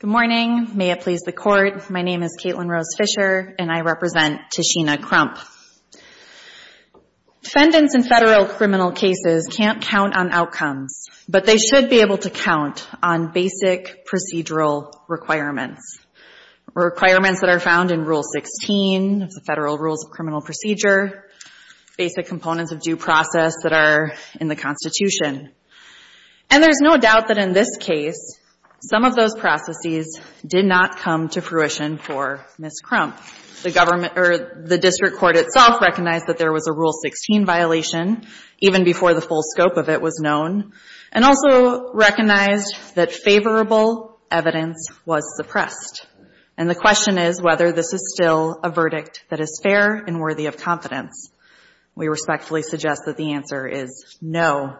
Good morning. May it please the court. My name is Caitlin Rose Fisher, and I represent Tashena Crump. Defendants in federal criminal cases can't count on outcomes, but they should be able to count on basic procedural requirements. Requirements that are found in Rule 16 of the Federal Rules of Criminal Procedure, basic components of due process that are in the Constitution. And there's no doubt that in this case, some of those processes did not come to fruition for Ms. Crump. The district court itself recognized that there was a Rule 16 violation, even before the full scope of it was known, and also recognized that favorable evidence was suppressed. And the question is whether this is still a verdict that is fair and worthy of confidence. We respectfully suggest that the answer is no.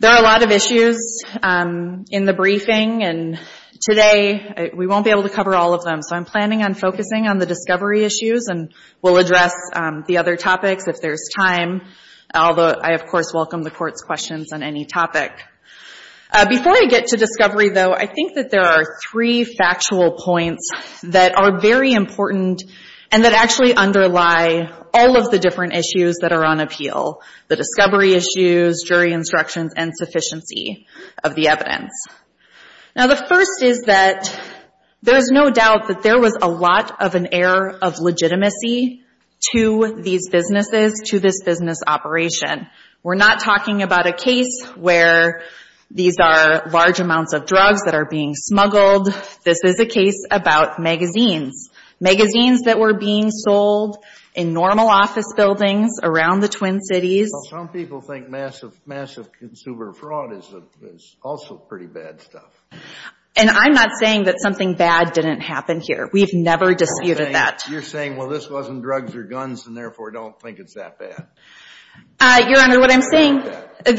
There are a lot of issues in the briefing, and today we won't be able to cover all of them, so I'm planning on focusing on the discovery issues, and we'll address the other topics if there's time, although I, of course, welcome the court's questions on any topic. Before I get to discovery, though, I think that there are three factual points that are very important, and that actually underlie all of the different issues that are on appeal. The discovery issues, jury instructions, and sufficiency of the evidence. Now, the first is that there is no doubt that there was a lot of an air of legitimacy to these businesses, to this business operation. We're not talking about a case where these are large amounts of drugs that are being smuggled. This is a case about magazines. Magazines that were being sold in normal office buildings around the Twin Cities. Well, some people think massive consumer fraud is also pretty bad stuff. And I'm not saying that something bad didn't happen here. We've never disputed that. You're saying, well, this wasn't drugs or guns, and therefore don't think it's that bad. Your Honor, what I'm saying, and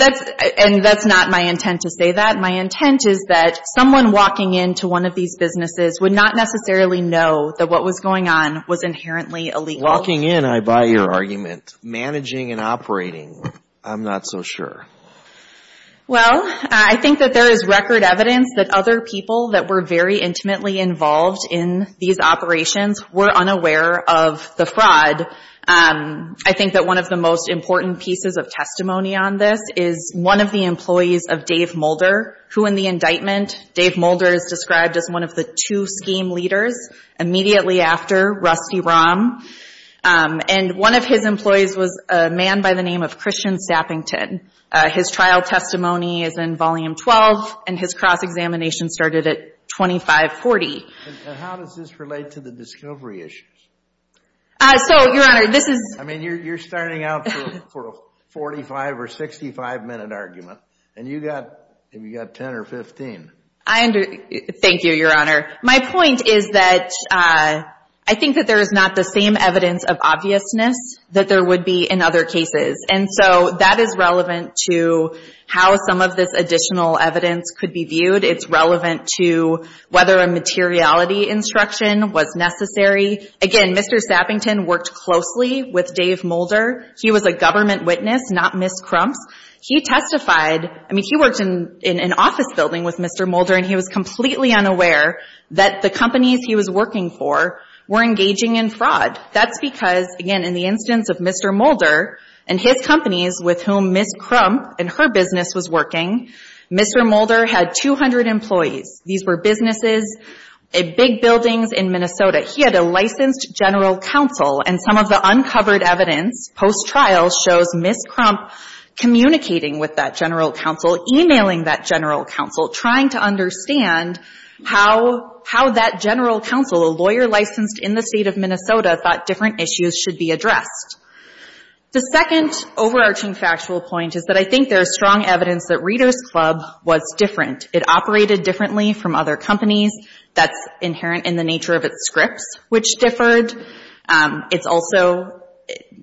that's not my intent to say that. My intent is that someone walking into one of these businesses would not necessarily know that what was going on was inherently illegal. Walking in, I buy your argument. Managing and operating, I'm not so sure. Well, I think that there is record evidence that other people that were very intimately involved in these operations were unaware of the fraud. I think that one of the most important pieces of testimony on this is one of the employees of Dave Mulder, who in the indictment, Dave Mulder is described as one of the two scheme leaders immediately after Rusty Rahm. And one of his employees was a man by the name of Christian Sappington. His trial testimony is in Volume 12, and his cross-examination started at 2540. And how does this relate to the discovery issues? So, Your Honor, this is... I mean, you're starting out for a 45 or 65-minute argument, and you've got 10 or 15. Thank you, Your Honor. My point is that I think that there is not the same evidence of obviousness that there would be in other cases. And so that is relevant to how some of this additional evidence could be viewed. It's relevant to whether a materiality instruction was necessary. Again, Mr. Sappington worked closely with Dave Mulder. He was a government witness, not Ms. Crump's. He testified... I mean, he worked in an office building with Mr. Mulder, and he was completely unaware that the companies he was working for were engaging in fraud. That's because, again, in the instance of Mr. Mulder and his companies with whom Ms. Crump and her business was working, Mr. Mulder had 200 employees. These were businesses, big buildings in Minnesota. He had a licensed general counsel, and some of the uncovered evidence post-trial shows Ms. Crump communicating with that general counsel, emailing that general counsel, trying to understand how that general counsel, a lawyer licensed in the state of Minnesota, thought different issues should be addressed. The second overarching factual point is that I think there is strong evidence that Reader's Club was different. It operated differently from other companies. That's inherent in the nature of its scripts, which differed. It's also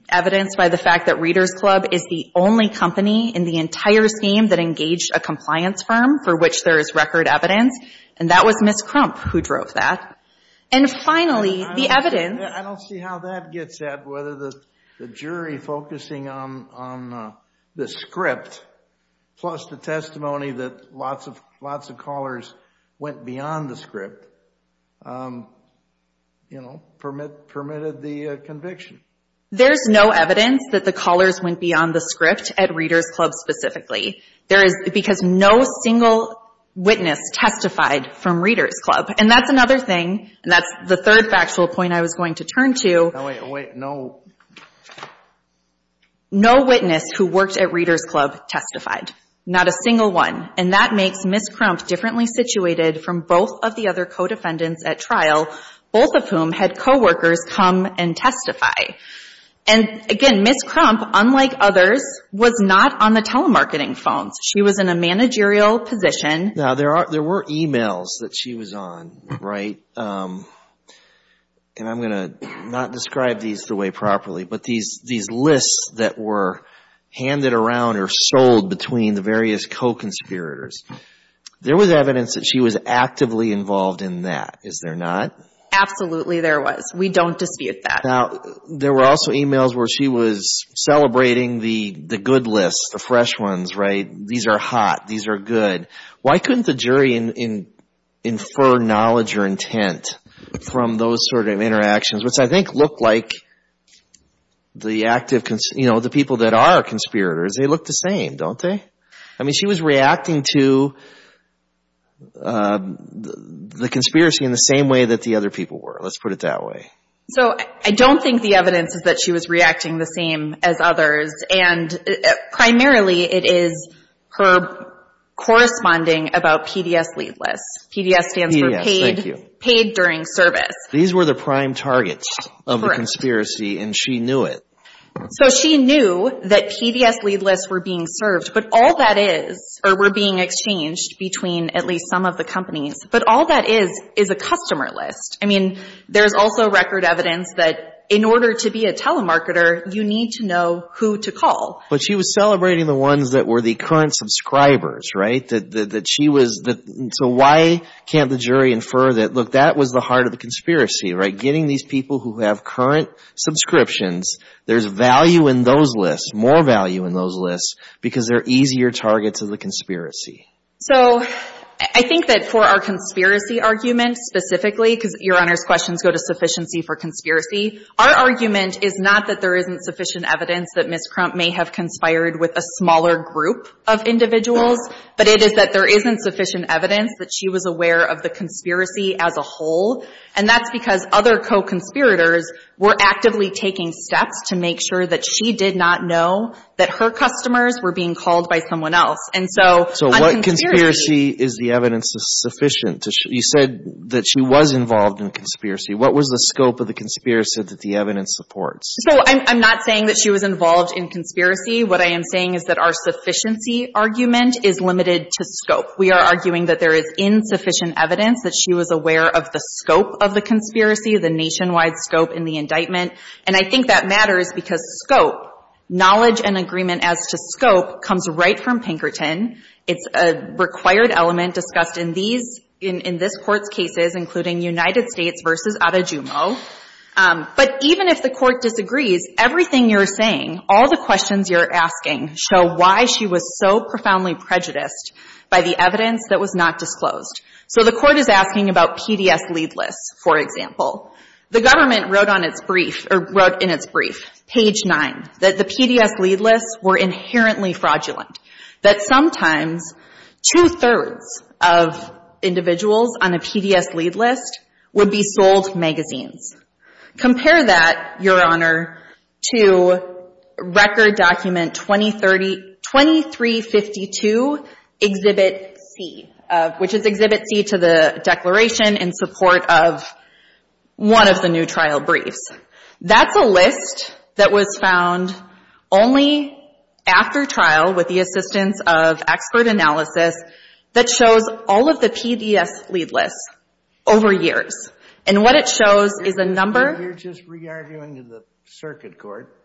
evidenced by the fact that Reader's Club is the only company in the entire scheme that engaged a compliance firm for which there is record evidence, and that was Ms. Crump who drove that. And finally, the evidence... I don't see how that gets at whether the jury focusing on the script plus the testimony that lots of callers went beyond the script permitted the conviction. There's no evidence that the callers went beyond the script at Reader's Club specifically, because no single witness testified from Reader's Club. And that's another thing, and that's the third factual point I was going to turn to. Wait, wait, no... No witness who worked at Reader's Club testified. Not a single one. And that makes Ms. Crump differently situated from both of the other co-defendants at trial, both of whom had co-workers come and testify. And again, Ms. Crump, unlike others, was not on the telemarketing phones. She was in a managerial position. Now, there were emails that she was on, right? And I'm going to not describe these the way properly, but these lists that were handed around or sold between the various co-conspirators, there was evidence that she was actively involved in that, is there not? Absolutely, there was. We don't dispute that. Now, there were also emails where she was celebrating the good lists, the fresh ones, these are hot, these are good. Why couldn't the jury infer knowledge or intent from those sort of interactions, which I think look like the people that are conspirators, they look the same, don't they? I mean, she was reacting to the conspiracy in the same way that the other people were, let's put it that way. So, I don't think the evidence is that she was reacting the same as others, and primarily it is her corresponding about PDS lead lists. PDS stands for paid during service. These were the prime targets of the conspiracy, and she knew it. So she knew that PDS lead lists were being served, but all that is, or were being exchanged between at least some of the companies, but all that is, is a customer list. I mean, there's also record evidence that in order to be a telemarketer, you need to know who to call. But she was celebrating the ones that were the current subscribers, right? That she was, so why can't the jury infer that, look, that was the heart of the conspiracy, right? Getting these people who have current subscriptions, there's value in those lists, more value in those lists, because they're easier targets of the conspiracy. So I think that for our conspiracy argument specifically, because Your Honor's questions go to sufficiency for conspiracy, our argument is not that there isn't sufficient evidence that Ms. Crump may have conspired with a smaller group of individuals, but it is that there isn't sufficient evidence that she was aware of the conspiracy as a whole, and that's because other co-conspirators were actively taking steps to make sure that she did not know that her customers were being called by someone else. And so, on conspiracy... So what conspiracy is the evidence sufficient? You said that she was involved in a conspiracy. What was the scope of the conspiracy that the evidence supports? So I'm not saying that she was involved in conspiracy. What I am saying is that our sufficiency argument is limited to scope. We are arguing that there is insufficient evidence that she was aware of the scope of the conspiracy, the nationwide scope in the indictment. And I think that matters because scope, knowledge and agreement as to scope, comes right from Pinkerton. It's a required element discussed in these, in this Court's cases, including United States v. Adejumo. But even if the Court disagrees, everything you're saying, all the questions you're asking, show why she was so profoundly prejudiced by the evidence that was not disclosed. So the Court is asking about PDS lead lists, for example. The government wrote on its brief or wrote in its brief, page 9, that the PDS lead lists were inherently fraudulent, that sometimes two-thirds of individuals on a PDS lead list would be sold magazines. Compare that, Your Honor, to record document 2352, Exhibit C, which is Exhibit C to the declaration in support of one of the new trial briefs. That's a list that was found only after trial, with the assistance of expert analysis, that shows all of the PDS lead lists over years. And what it shows is a number... You're just re-arguing to the circuit court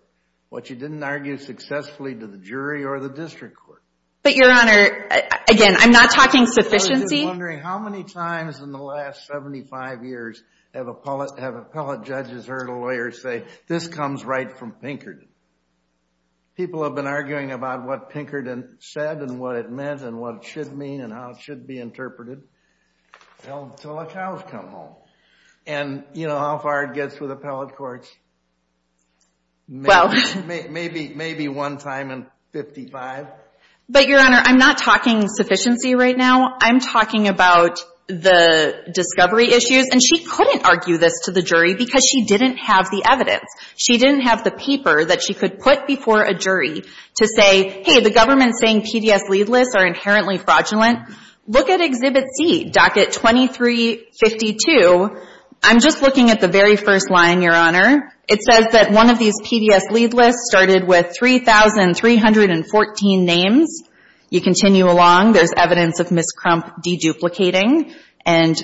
what you didn't argue successfully to the jury or the district court. But, Your Honor, again, I'm not talking sufficiency. I'm just wondering, how many times in the last 75 years have appellate judges heard a lawyer say, this comes right from Pinkerton? People have been arguing about what Pinkerton said and what it meant and what it should mean and how it should be interpreted. Well, until the cows come home. And, you know, how far it gets with appellate courts? Maybe one time in 55. But, Your Honor, I'm not talking sufficiency right now. I'm talking about the discovery issues. And she couldn't argue this to the jury because she didn't have the evidence. She didn't have the paper that she could put before a jury to say, hey, the government's saying PDS lead lists are inherently fraudulent. Look at Exhibit C, Docket 2352. I'm just looking at the very first line, Your Honor. It says that one of these PDS lead lists started with 3,314 names. You continue along. There's evidence of Ms. Crump de-duplicating. And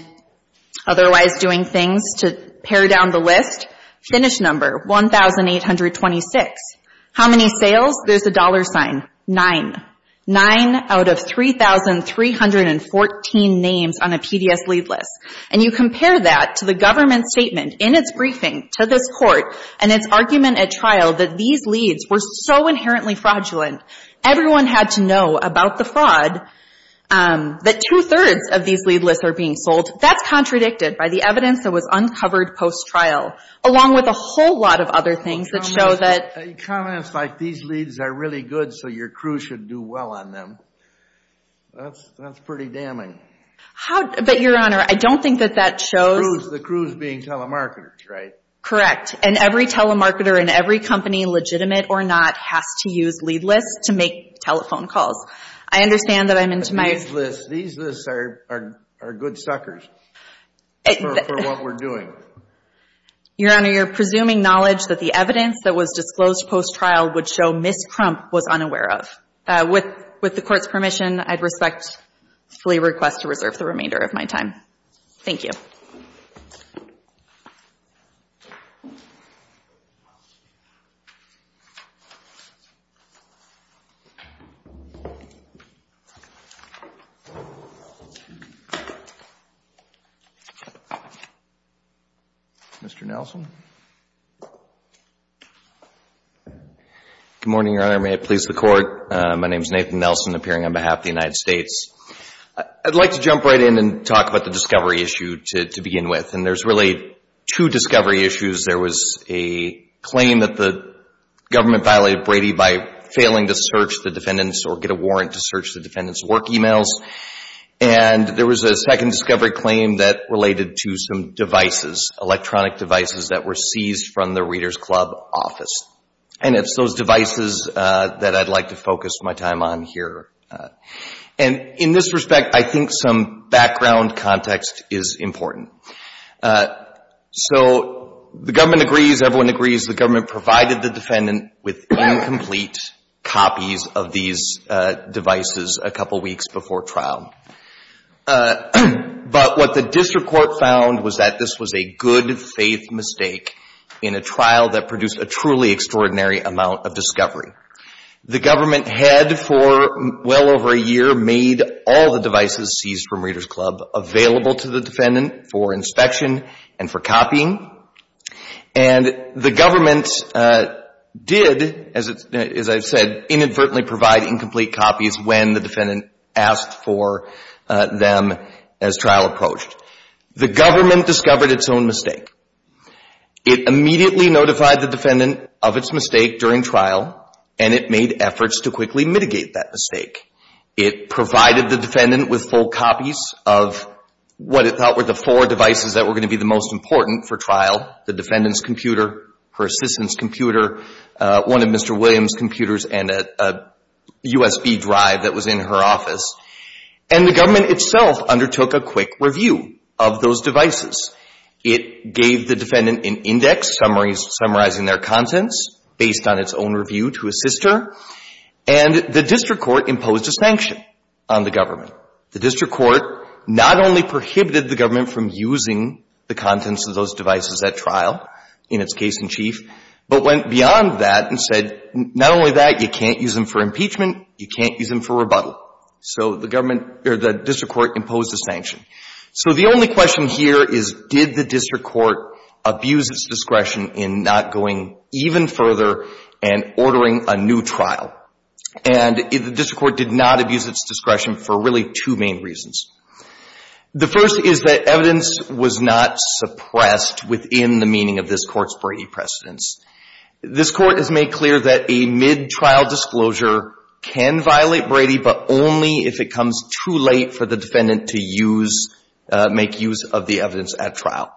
otherwise doing things to pare down the list. Finish number, 1,826. How many sales? There's a dollar sign. Nine. Nine out of 3,314 names on a PDS lead list. And you compare that to the government's statement in its briefing to this Court and its argument at trial that these leads were so inherently fraudulent, everyone had to know about the fraud, that two-thirds of these lead lists are being sold. That's contradicted by the evidence that was uncovered post-trial, along with a whole lot of other things that show that... Comments like, these leads are really good, so your crew should do well on them. That's pretty damning. But, Your Honor, I don't think that that shows... The crew's being telemarketers, right? Correct. And every telemarketer in every company, legitimate or not, has to use lead lists to make telephone calls. I understand that I'm into my... These lists are good suckers for what we're doing. Your Honor, you're presuming knowledge that the evidence that was disclosed post-trial would show Ms. Crump was unaware of. With the Court's permission, I respectfully request to reserve the remainder of my time. Thank you. Mr. Nelson? Good morning, Your Honor. May it please the Court? My name's Nathan Nelson, appearing on behalf of the United States. I'd like to jump right in and talk about the discovery issue to begin with. And there's really two discovery issues. There was a claim that the government violated Brady by failing to search the defendant's or get a warrant to search the defendant's work emails. And there was a second discovery claim that related to some devices, electronic devices that were seized from the Reader's Club office. And it's those devices that I'd like to focus my time on here. And in this respect, I think some background context is important. So the government agrees, everyone agrees, the government provided the defendant with incomplete copies of these devices a couple weeks before trial. But what the district court found was that this was a good-faith mistake in a trial that produced a truly extraordinary amount of discovery. The government had for well over a year made all the devices seized from Reader's Club available to the defendant for inspection and for copying. And the government did, as I've said, inadvertently provide incomplete copies when the defendant asked for them as trial approached. The government discovered its own mistake. It immediately notified the defendant of its mistake during trial, and it made efforts to quickly mitigate that mistake. It provided the defendant with full copies of what it thought were the four devices that were going to be the most important for trial, the defendant's computer, her assistant's computer, one of Mr. Williams' computers, and a USB drive that was in her office. And the government itself undertook a quick review of those devices. It gave the defendant an index summarizing their contents based on its own review to assist her. And the district court imposed a sanction on the government. The district court not only prohibited the government from using the contents of those devices at trial, in its case in chief, but went beyond that and said, not only that, you can't use them for impeachment, you can't use them for rebuttal. So the district court imposed a sanction. So the only question here is, did the district court abuse its discretion in not going even further and ordering a new trial? And the district court did not abuse its discretion for really two main reasons. The first is that evidence was not suppressed within the meaning of this court's Brady precedents. This court has made clear that a mid-trial disclosure can violate Brady, but only if it comes too late for the defendant to use – make use of the evidence at trial.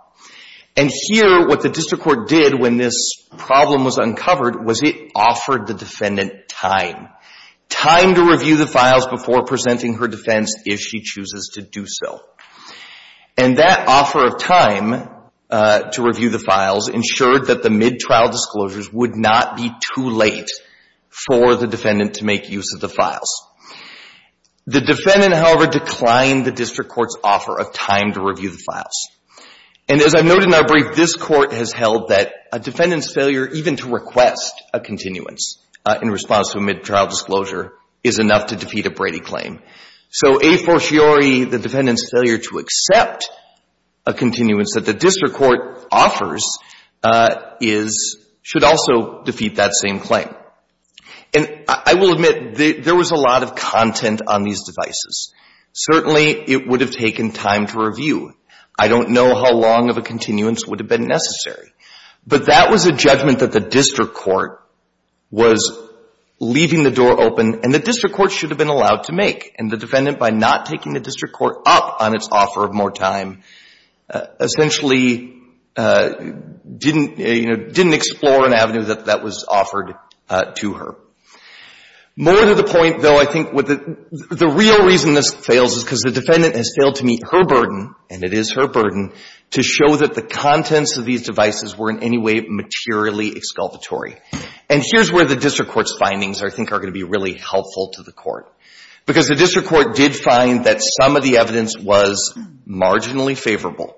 And here, what the district court did when this problem was uncovered was it offered the defendant time, time to review the files before presenting her defense if she chooses to do so. And that offer of time to review the files ensured that the mid-trial disclosures would not be too late for the defendant to make use of the files. The defendant, however, declined the district court's offer of time to review the files. And as I noted in our brief, this Court has held that a defendant's failure even to request a continuance in response to a mid-trial disclosure is enough to defeat a Brady claim. So a fortiori, the defendant's failure to accept a continuance that the district court offers is – should also defeat that same claim. And I will admit there was a lot of content on these devices. Certainly, it would have taken time to review. I don't know how long of a continuance would have been necessary. But that was a judgment that the district court was leaving the door open. And the district court should have been allowed to make. And the defendant, by not taking the district court up on its offer of more time, essentially didn't – you know, didn't explore an avenue that was offered to her. More to the point, though, I think the real reason this fails is because the defendant has failed to meet her burden – and it is her burden – to show that the contents of these devices were in any way materially exculpatory. And here's where the district court's findings, I think, are going to be really helpful to the court. Because the district court did find that some of the evidence was marginally favorable.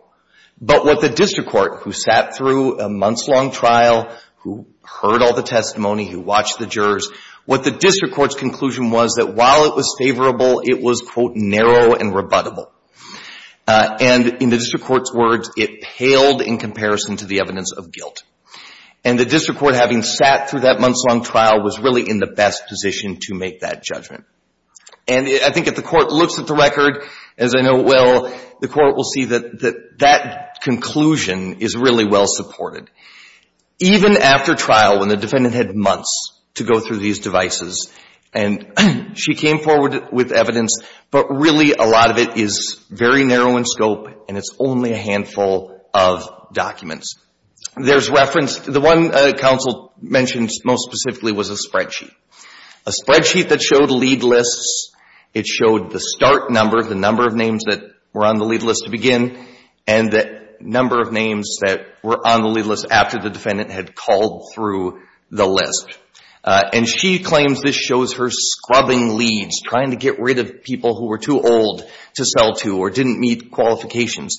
But what the district court, who sat through a months-long trial, who heard all the testimony, who watched the jurors, what the district court's conclusion was that while it was favorable, it was, quote, narrow and rebuttable. And in the district court's words, it paled in comparison to the evidence of guilt. And the district court, having sat through that months-long trial, was really in the best position to make that judgment. And I think if the court looks at the record, as I know it will, the court will see that that conclusion is really well supported. Even after trial, when the defendant had months to go through these devices, and she came forward with evidence, but really a lot of it is very narrow in scope, and it's only a handful of documents. There's reference – the one counsel mentioned most specifically was a spreadsheet. A spreadsheet that showed lead lists. It showed the start number, the number of names that were on the lead list to begin, and the number of names that were on the lead list after the defendant had called through the list. And she claims this shows her scrubbing leads, trying to get rid of people who were too old to sell to or didn't meet qualifications.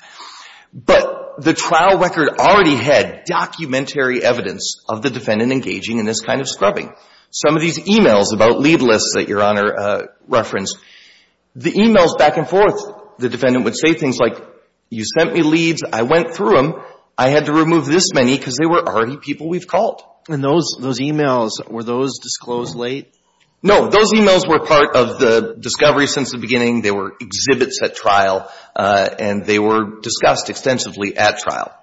But the trial record already had documentary evidence of the defendant engaging in this kind of scrubbing. Some of these e-mails about lead lists that Your Honor referenced, the e-mails back and forth, the defendant would say things like, you sent me leads, I went through them, I had to remove this many because they were already people we've called. And those e-mails, were those disclosed late? No. Those e-mails were part of the discovery since the beginning. They were exhibits at trial, and they were discussed extensively at trial.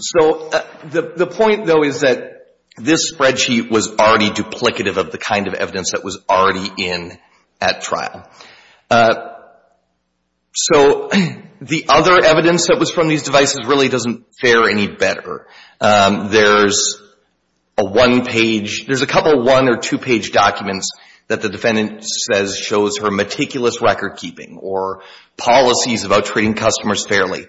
So the point, though, is that this spreadsheet was already duplicative of the kind of evidence that was already in at trial. So, the other evidence that was from these devices really doesn't fare any better. There's a one-page, there's a couple one or two-page documents that the defendant says shows her meticulous record keeping or policies about treating customers fairly.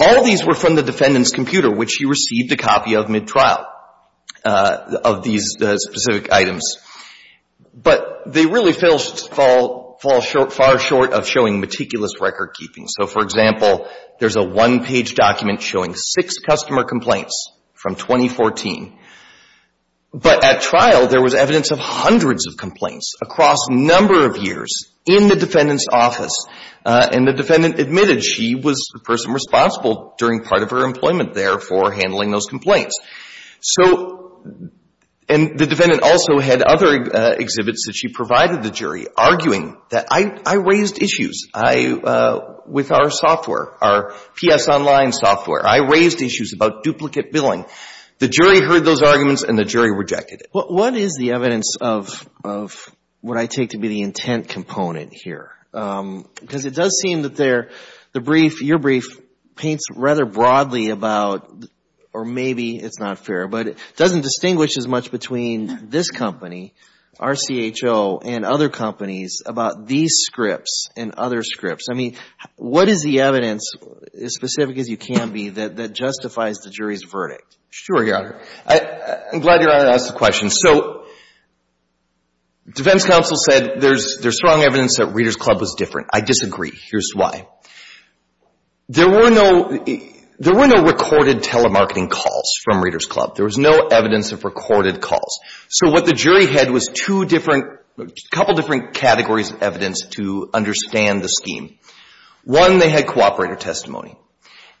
All of these were from the defendant's computer, which she received a copy of mid-trial, of these specific items. But, they really fall short of showing meticulous record keeping. So, for example, there's a one-page document showing six customer complaints from 2014. But at trial, there was evidence of hundreds of complaints across a number of years in the defendant's office. And the defendant admitted she was the person responsible during part of her employment there for handling those complaints. So, and the defendant also had other exhibits that she provided the jury arguing that I raised issues with our software, our PS Online software. I raised issues about duplicate billing. The jury heard those arguments, and the jury rejected it. What is the evidence of what I take to be the intent component here? Because it does not distinguish as much between this company, RCHO, and other companies about these scripts and other scripts. I mean, what is the evidence, as specific as you can be, that justifies the jury's verdict? Sure, Your Honor. I'm glad Your Honor asked the question. So, defense counsel said there's strong evidence that Reader's Club was different. I disagree. Here's why. There were no recorded telemarketing calls from Reader's Club. There was no evidence of recorded calls. So what the jury had was two different, a couple different categories of evidence to understand the scheme. One, they had cooperator testimony.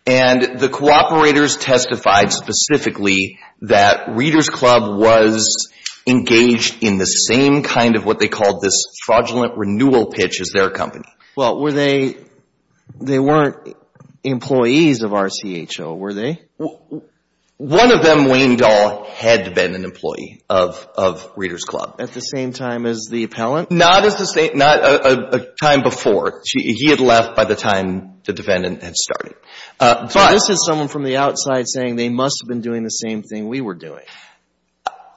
And the cooperators testified specifically that Reader's Club was engaged in the same kind of what they called this fraudulent renewal pitch as their company. Well, were they, they weren't employees of RCHO, were they? One of them, Wayne Dahl, had been an employee of Reader's Club. At the same time as the appellant? Not as the same, not a time before. He had left by the time the defendant had started. But this is someone from the outside saying they must have been doing the same thing we were doing.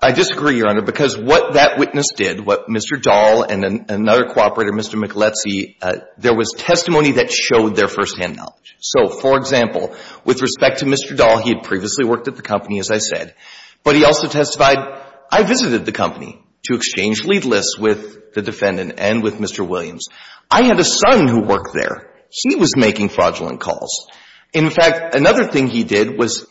I disagree, Your Honor, because what that witness did, what Mr. Dahl and another cooperator, Mr. McAletsy, there was testimony that showed their firsthand knowledge. So, for example, with respect to Mr. Dahl, he had previously worked at the company, as I said, but he also testified, I visited the company to exchange lead lists with the defendant and with Mr. Williams. I had a son who worked there. He was making fraudulent calls. In fact, another thing he did was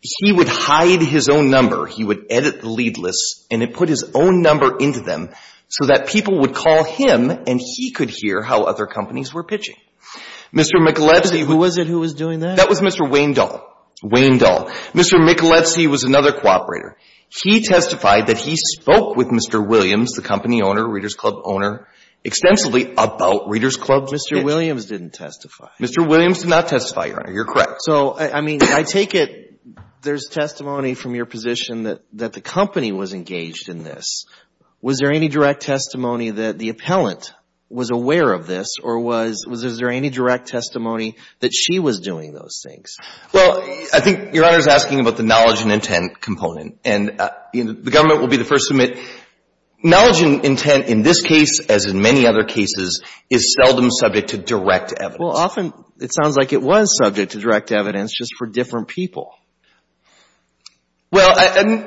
he would hide his own number. He would edit the lead lists and put his own number into them so that people would call him and he could hear how other companies were pitching. Mr. McAletsy, who was it who was doing that? That was Mr. Wayne Dahl. Wayne Dahl. Mr. McAletsy was another cooperator. He testified that he spoke with Mr. Williams, the company owner, Reader's Club owner, extensively about Reader's Club's pitch. Mr. Williams didn't testify. Mr. Williams did not testify, Your Honor. You're correct. So, I mean, I take it there's testimony from your position that the company was engaged in this. Was there any direct testimony that the appellant was aware of this, or was there any direct testimony that she was doing those things? Well, I think Your Honor is asking about the knowledge and intent component. And the government will be the first to admit knowledge and intent in this case, as in many other cases, is seldom subject to direct evidence. Well, often it sounds like it was subject to direct evidence, just for different people. Well,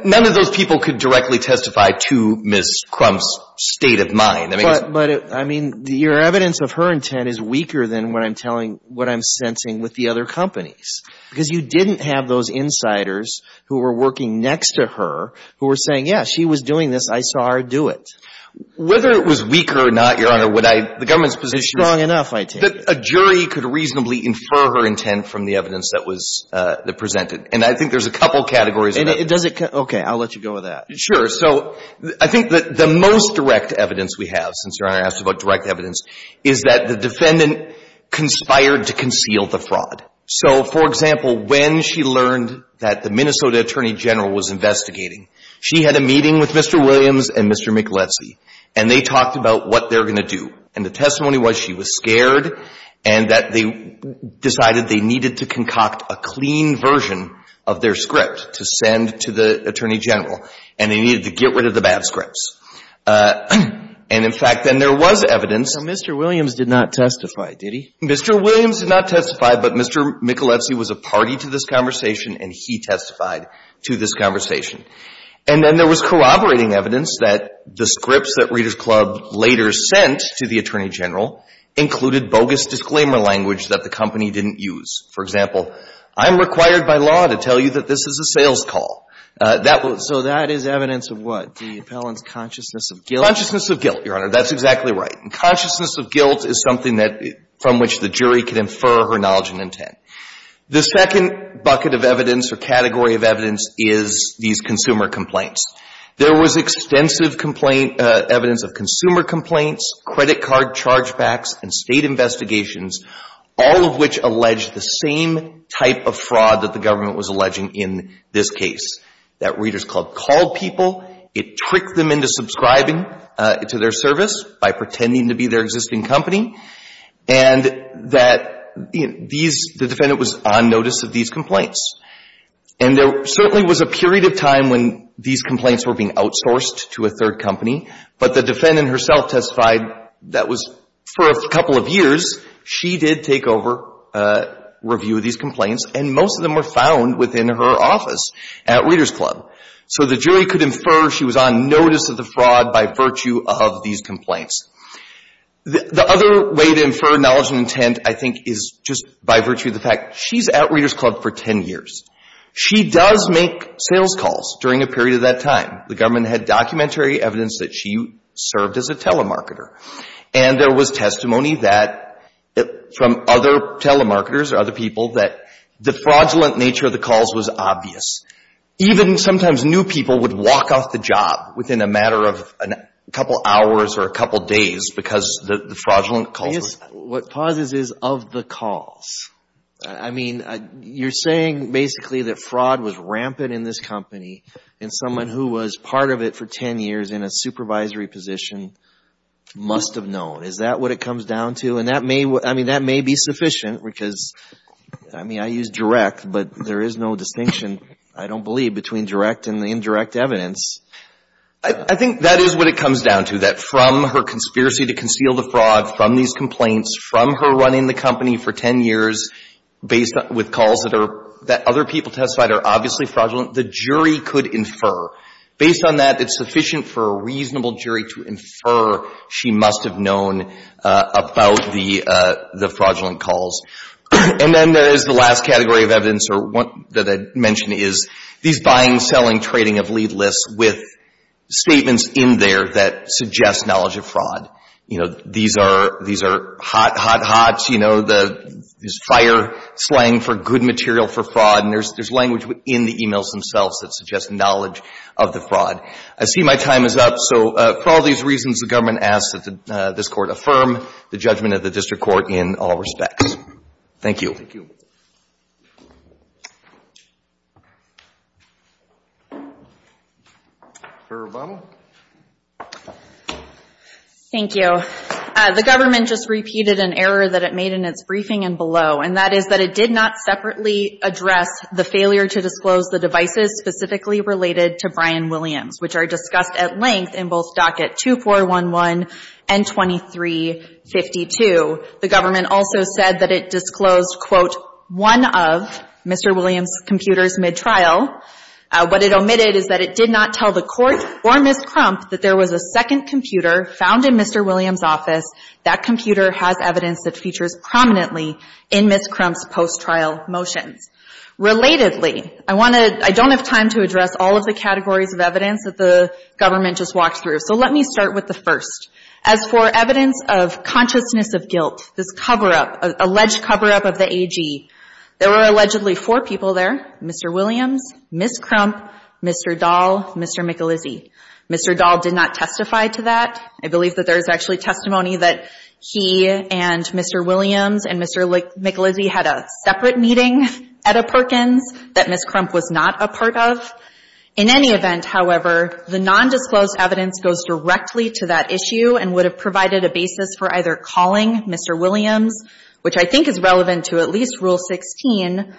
none of those people could directly testify to Ms. Crump's state of mind. But, I mean, your evidence of her intent is weaker than what I'm telling, what I'm sensing with the other companies. Because you didn't have those insiders who were working next to her who were saying, yes, she was doing this, I saw her do it. Whether it was weaker or not, Your Honor, would I, the government's position is Strong enough, I take it. That a jury could reasonably infer her intent from the evidence that was presented. And I think there's a couple of categories. And does it – okay, I'll let you go with that. Sure. So I think that the most direct evidence we have, since Your Honor asked about direct evidence, is that the defendant conspired to conceal the fraud. So, for example, when she learned that the Minnesota Attorney General was investigating, she had a meeting with Mr. Williams and Mr. Michelezzi, and they talked about what they're going to do. And the testimony was she was scared and that they decided they needed to concoct a clean version of their script to send to the Attorney General. And they needed to get rid of the bad scripts. And, in fact, then there was evidence Mr. Williams did not testify, did he? Mr. Williams did not testify, but Mr. Michelezzi was a party to this conversation and he testified to this conversation. And then there was corroborating evidence that the scripts that Reader's Club later sent to the Attorney General included bogus disclaimer language that the company didn't use. For example, I'm required by law to tell you that this is a sales call. That will – So that is evidence of what? The appellant's consciousness of guilt? Consciousness of guilt, Your Honor. That's exactly right. And consciousness of guilt is something that – from which the jury can infer her knowledge and intent. The second bucket of evidence or category of evidence is these consumer complaints. There was extensive complaint – evidence of consumer complaints, credit card chargebacks, and state investigations, all of which allege the same type of fraud that the government was alleging in this case. That Reader's Club called people, it tricked them into subscribing to their service by pretending to be their existing company, and that these – the defendant was on notice of these complaints. And there certainly was a period of time when these complaints were being outsourced to a third company, but the defendant herself testified that was – for a couple of years, she did take over review of these complaints, and most of them were found within her office at Reader's Club. So the jury could infer she was on notice of the fraud by virtue of these complaints. The other way to infer knowledge and intent, I think, is just by virtue of the fact she's at Reader's Club for 10 years. She does make sales calls during a period of that time. The government had documentary evidence that she served as a telemarketer. And there was testimony that – from other telemarketers or other people that the fraudulent nature of the calls was obvious. Even sometimes new people would walk off the job within a matter of a couple of hours or a couple of days because the fraudulent calls. I guess what pauses is of the calls. I mean, you're saying basically that fraud was rampant in this company, and someone who was part of it for 10 years in a supervisory position must have known. Is that what it comes down to? And that may – I mean, that may be sufficient, because, I mean, I use direct, but there is no distinction, I don't believe, between direct and indirect evidence. I think that is what it comes down to, that from her conspiracy to conceal the fraud from these complaints, from her running the company for 10 years based on – with calls that are – that other people testified are obviously fraudulent, the jury could infer. Based on that, it's sufficient for a reasonable jury to infer she must have known about the fraudulent calls. And then there is the last category of evidence or one that I mentioned is these buying, selling, trading of lead lists with statements in there that suggest knowledge of fraud. You know, these are – these are hot, hot, hot, you know, the – this fire slang for good material for fraud, and there is language in the emails themselves that suggest knowledge of the fraud. I see my time is up. So for all these reasons, the government asks that this Court affirm the judgment of the district court in all respects. Thank you. Thank you. Ms. Obama. Thank you. The government just repeated an error that it made in its briefing and below, and that is that it did not separately address the failure to disclose the devices specifically related to Brian Williams, which are discussed at length in both Docket 2411 and 2352. The government, in addition of Mr. Williams' computer's mid-trial, what it omitted is that it did not tell the Court or Ms. Crump that there was a second computer found in Mr. Williams' office. That computer has evidence that features prominently in Ms. Crump's post-trial motions. Relatedly, I want to – I don't have time to address all of the categories of evidence that the government just walked through, so let me start with the first. As for evidence of consciousness of guilt, this cover-up, alleged cover-up of the AG, there were allegedly four people there, Mr. Williams, Ms. Crump, Mr. Dahl, Mr. Michelizzi. Mr. Dahl did not testify to that. I believe that there is actually testimony that he and Mr. Williams and Mr. Michelizzi had a separate meeting at a Perkins that Ms. Crump was not a part of. In any event, however, the nondisclosed evidence goes directly to that issue and would have provided a basis for either calling Mr. Williams, which I think is relevant to at least Rule 16,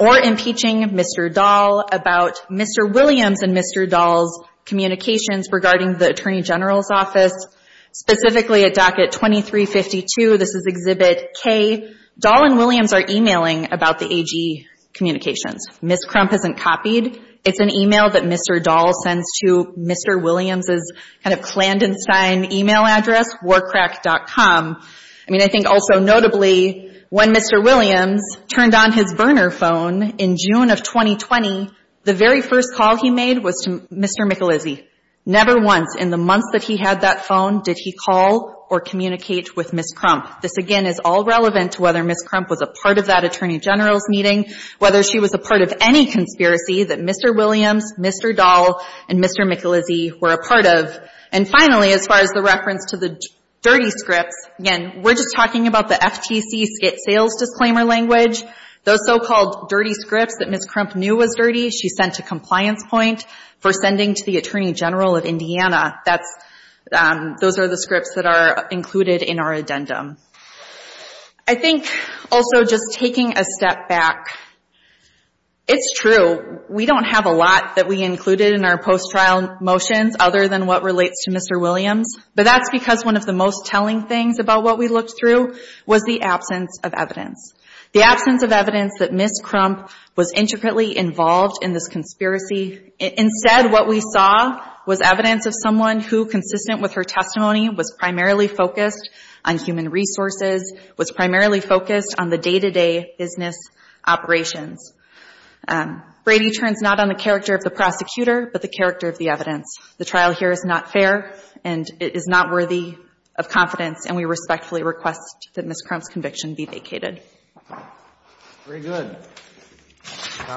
or impeaching Mr. Dahl about Mr. Williams and Mr. Dahl's communications regarding the Attorney General's office. Specifically, at Docket 2352, this is Exhibit K, Dahl and Williams are emailing about the AG communications. Ms. Crump isn't copied. It's an email that Mr. Dahl sends to Mr. Williams' kind of clandestine email address, warcrack.com. I mean, I think also notably, when Mr. Williams turned on his burner phone in June of 2020, the very first call he made was to Mr. Michelizzi. Never once in the months that he had that phone did he call or communicate with Ms. Crump. This, again, is all relevant to whether Ms. Crump was a part of that Attorney General's meeting, whether she was a part of any conspiracy that Mr. Williams, Mr. Dahl, and Mr. Michelizzi were a part of. And finally, as far as the reference to the dirty scripts, again, we're just talking about the FTC sales disclaimer language. Those so-called dirty scripts that Ms. Crump knew was dirty, she sent to Compliance Point for sending to the Attorney General of Indiana. Those are the scripts that are included in our addendum. I think also just taking a step back, it's true, we don't have a lot that we included in our post-trial motions other than what relates to Mr. Williams, but that's because one of the most telling things about what we looked through was the absence of evidence. The absence of evidence that Ms. Crump was intricately involved in this conspiracy. Instead, what we saw was evidence of someone who, consistent with her testimony, was primarily focused on human resources, was primarily focused on the day-to-day business operations. Brady turns not on the character of the prosecutor, but the character of the evidence. The trial here is not fair, and it is not worthy of confidence, and we respectfully request that Ms. Crump's conviction be vacated.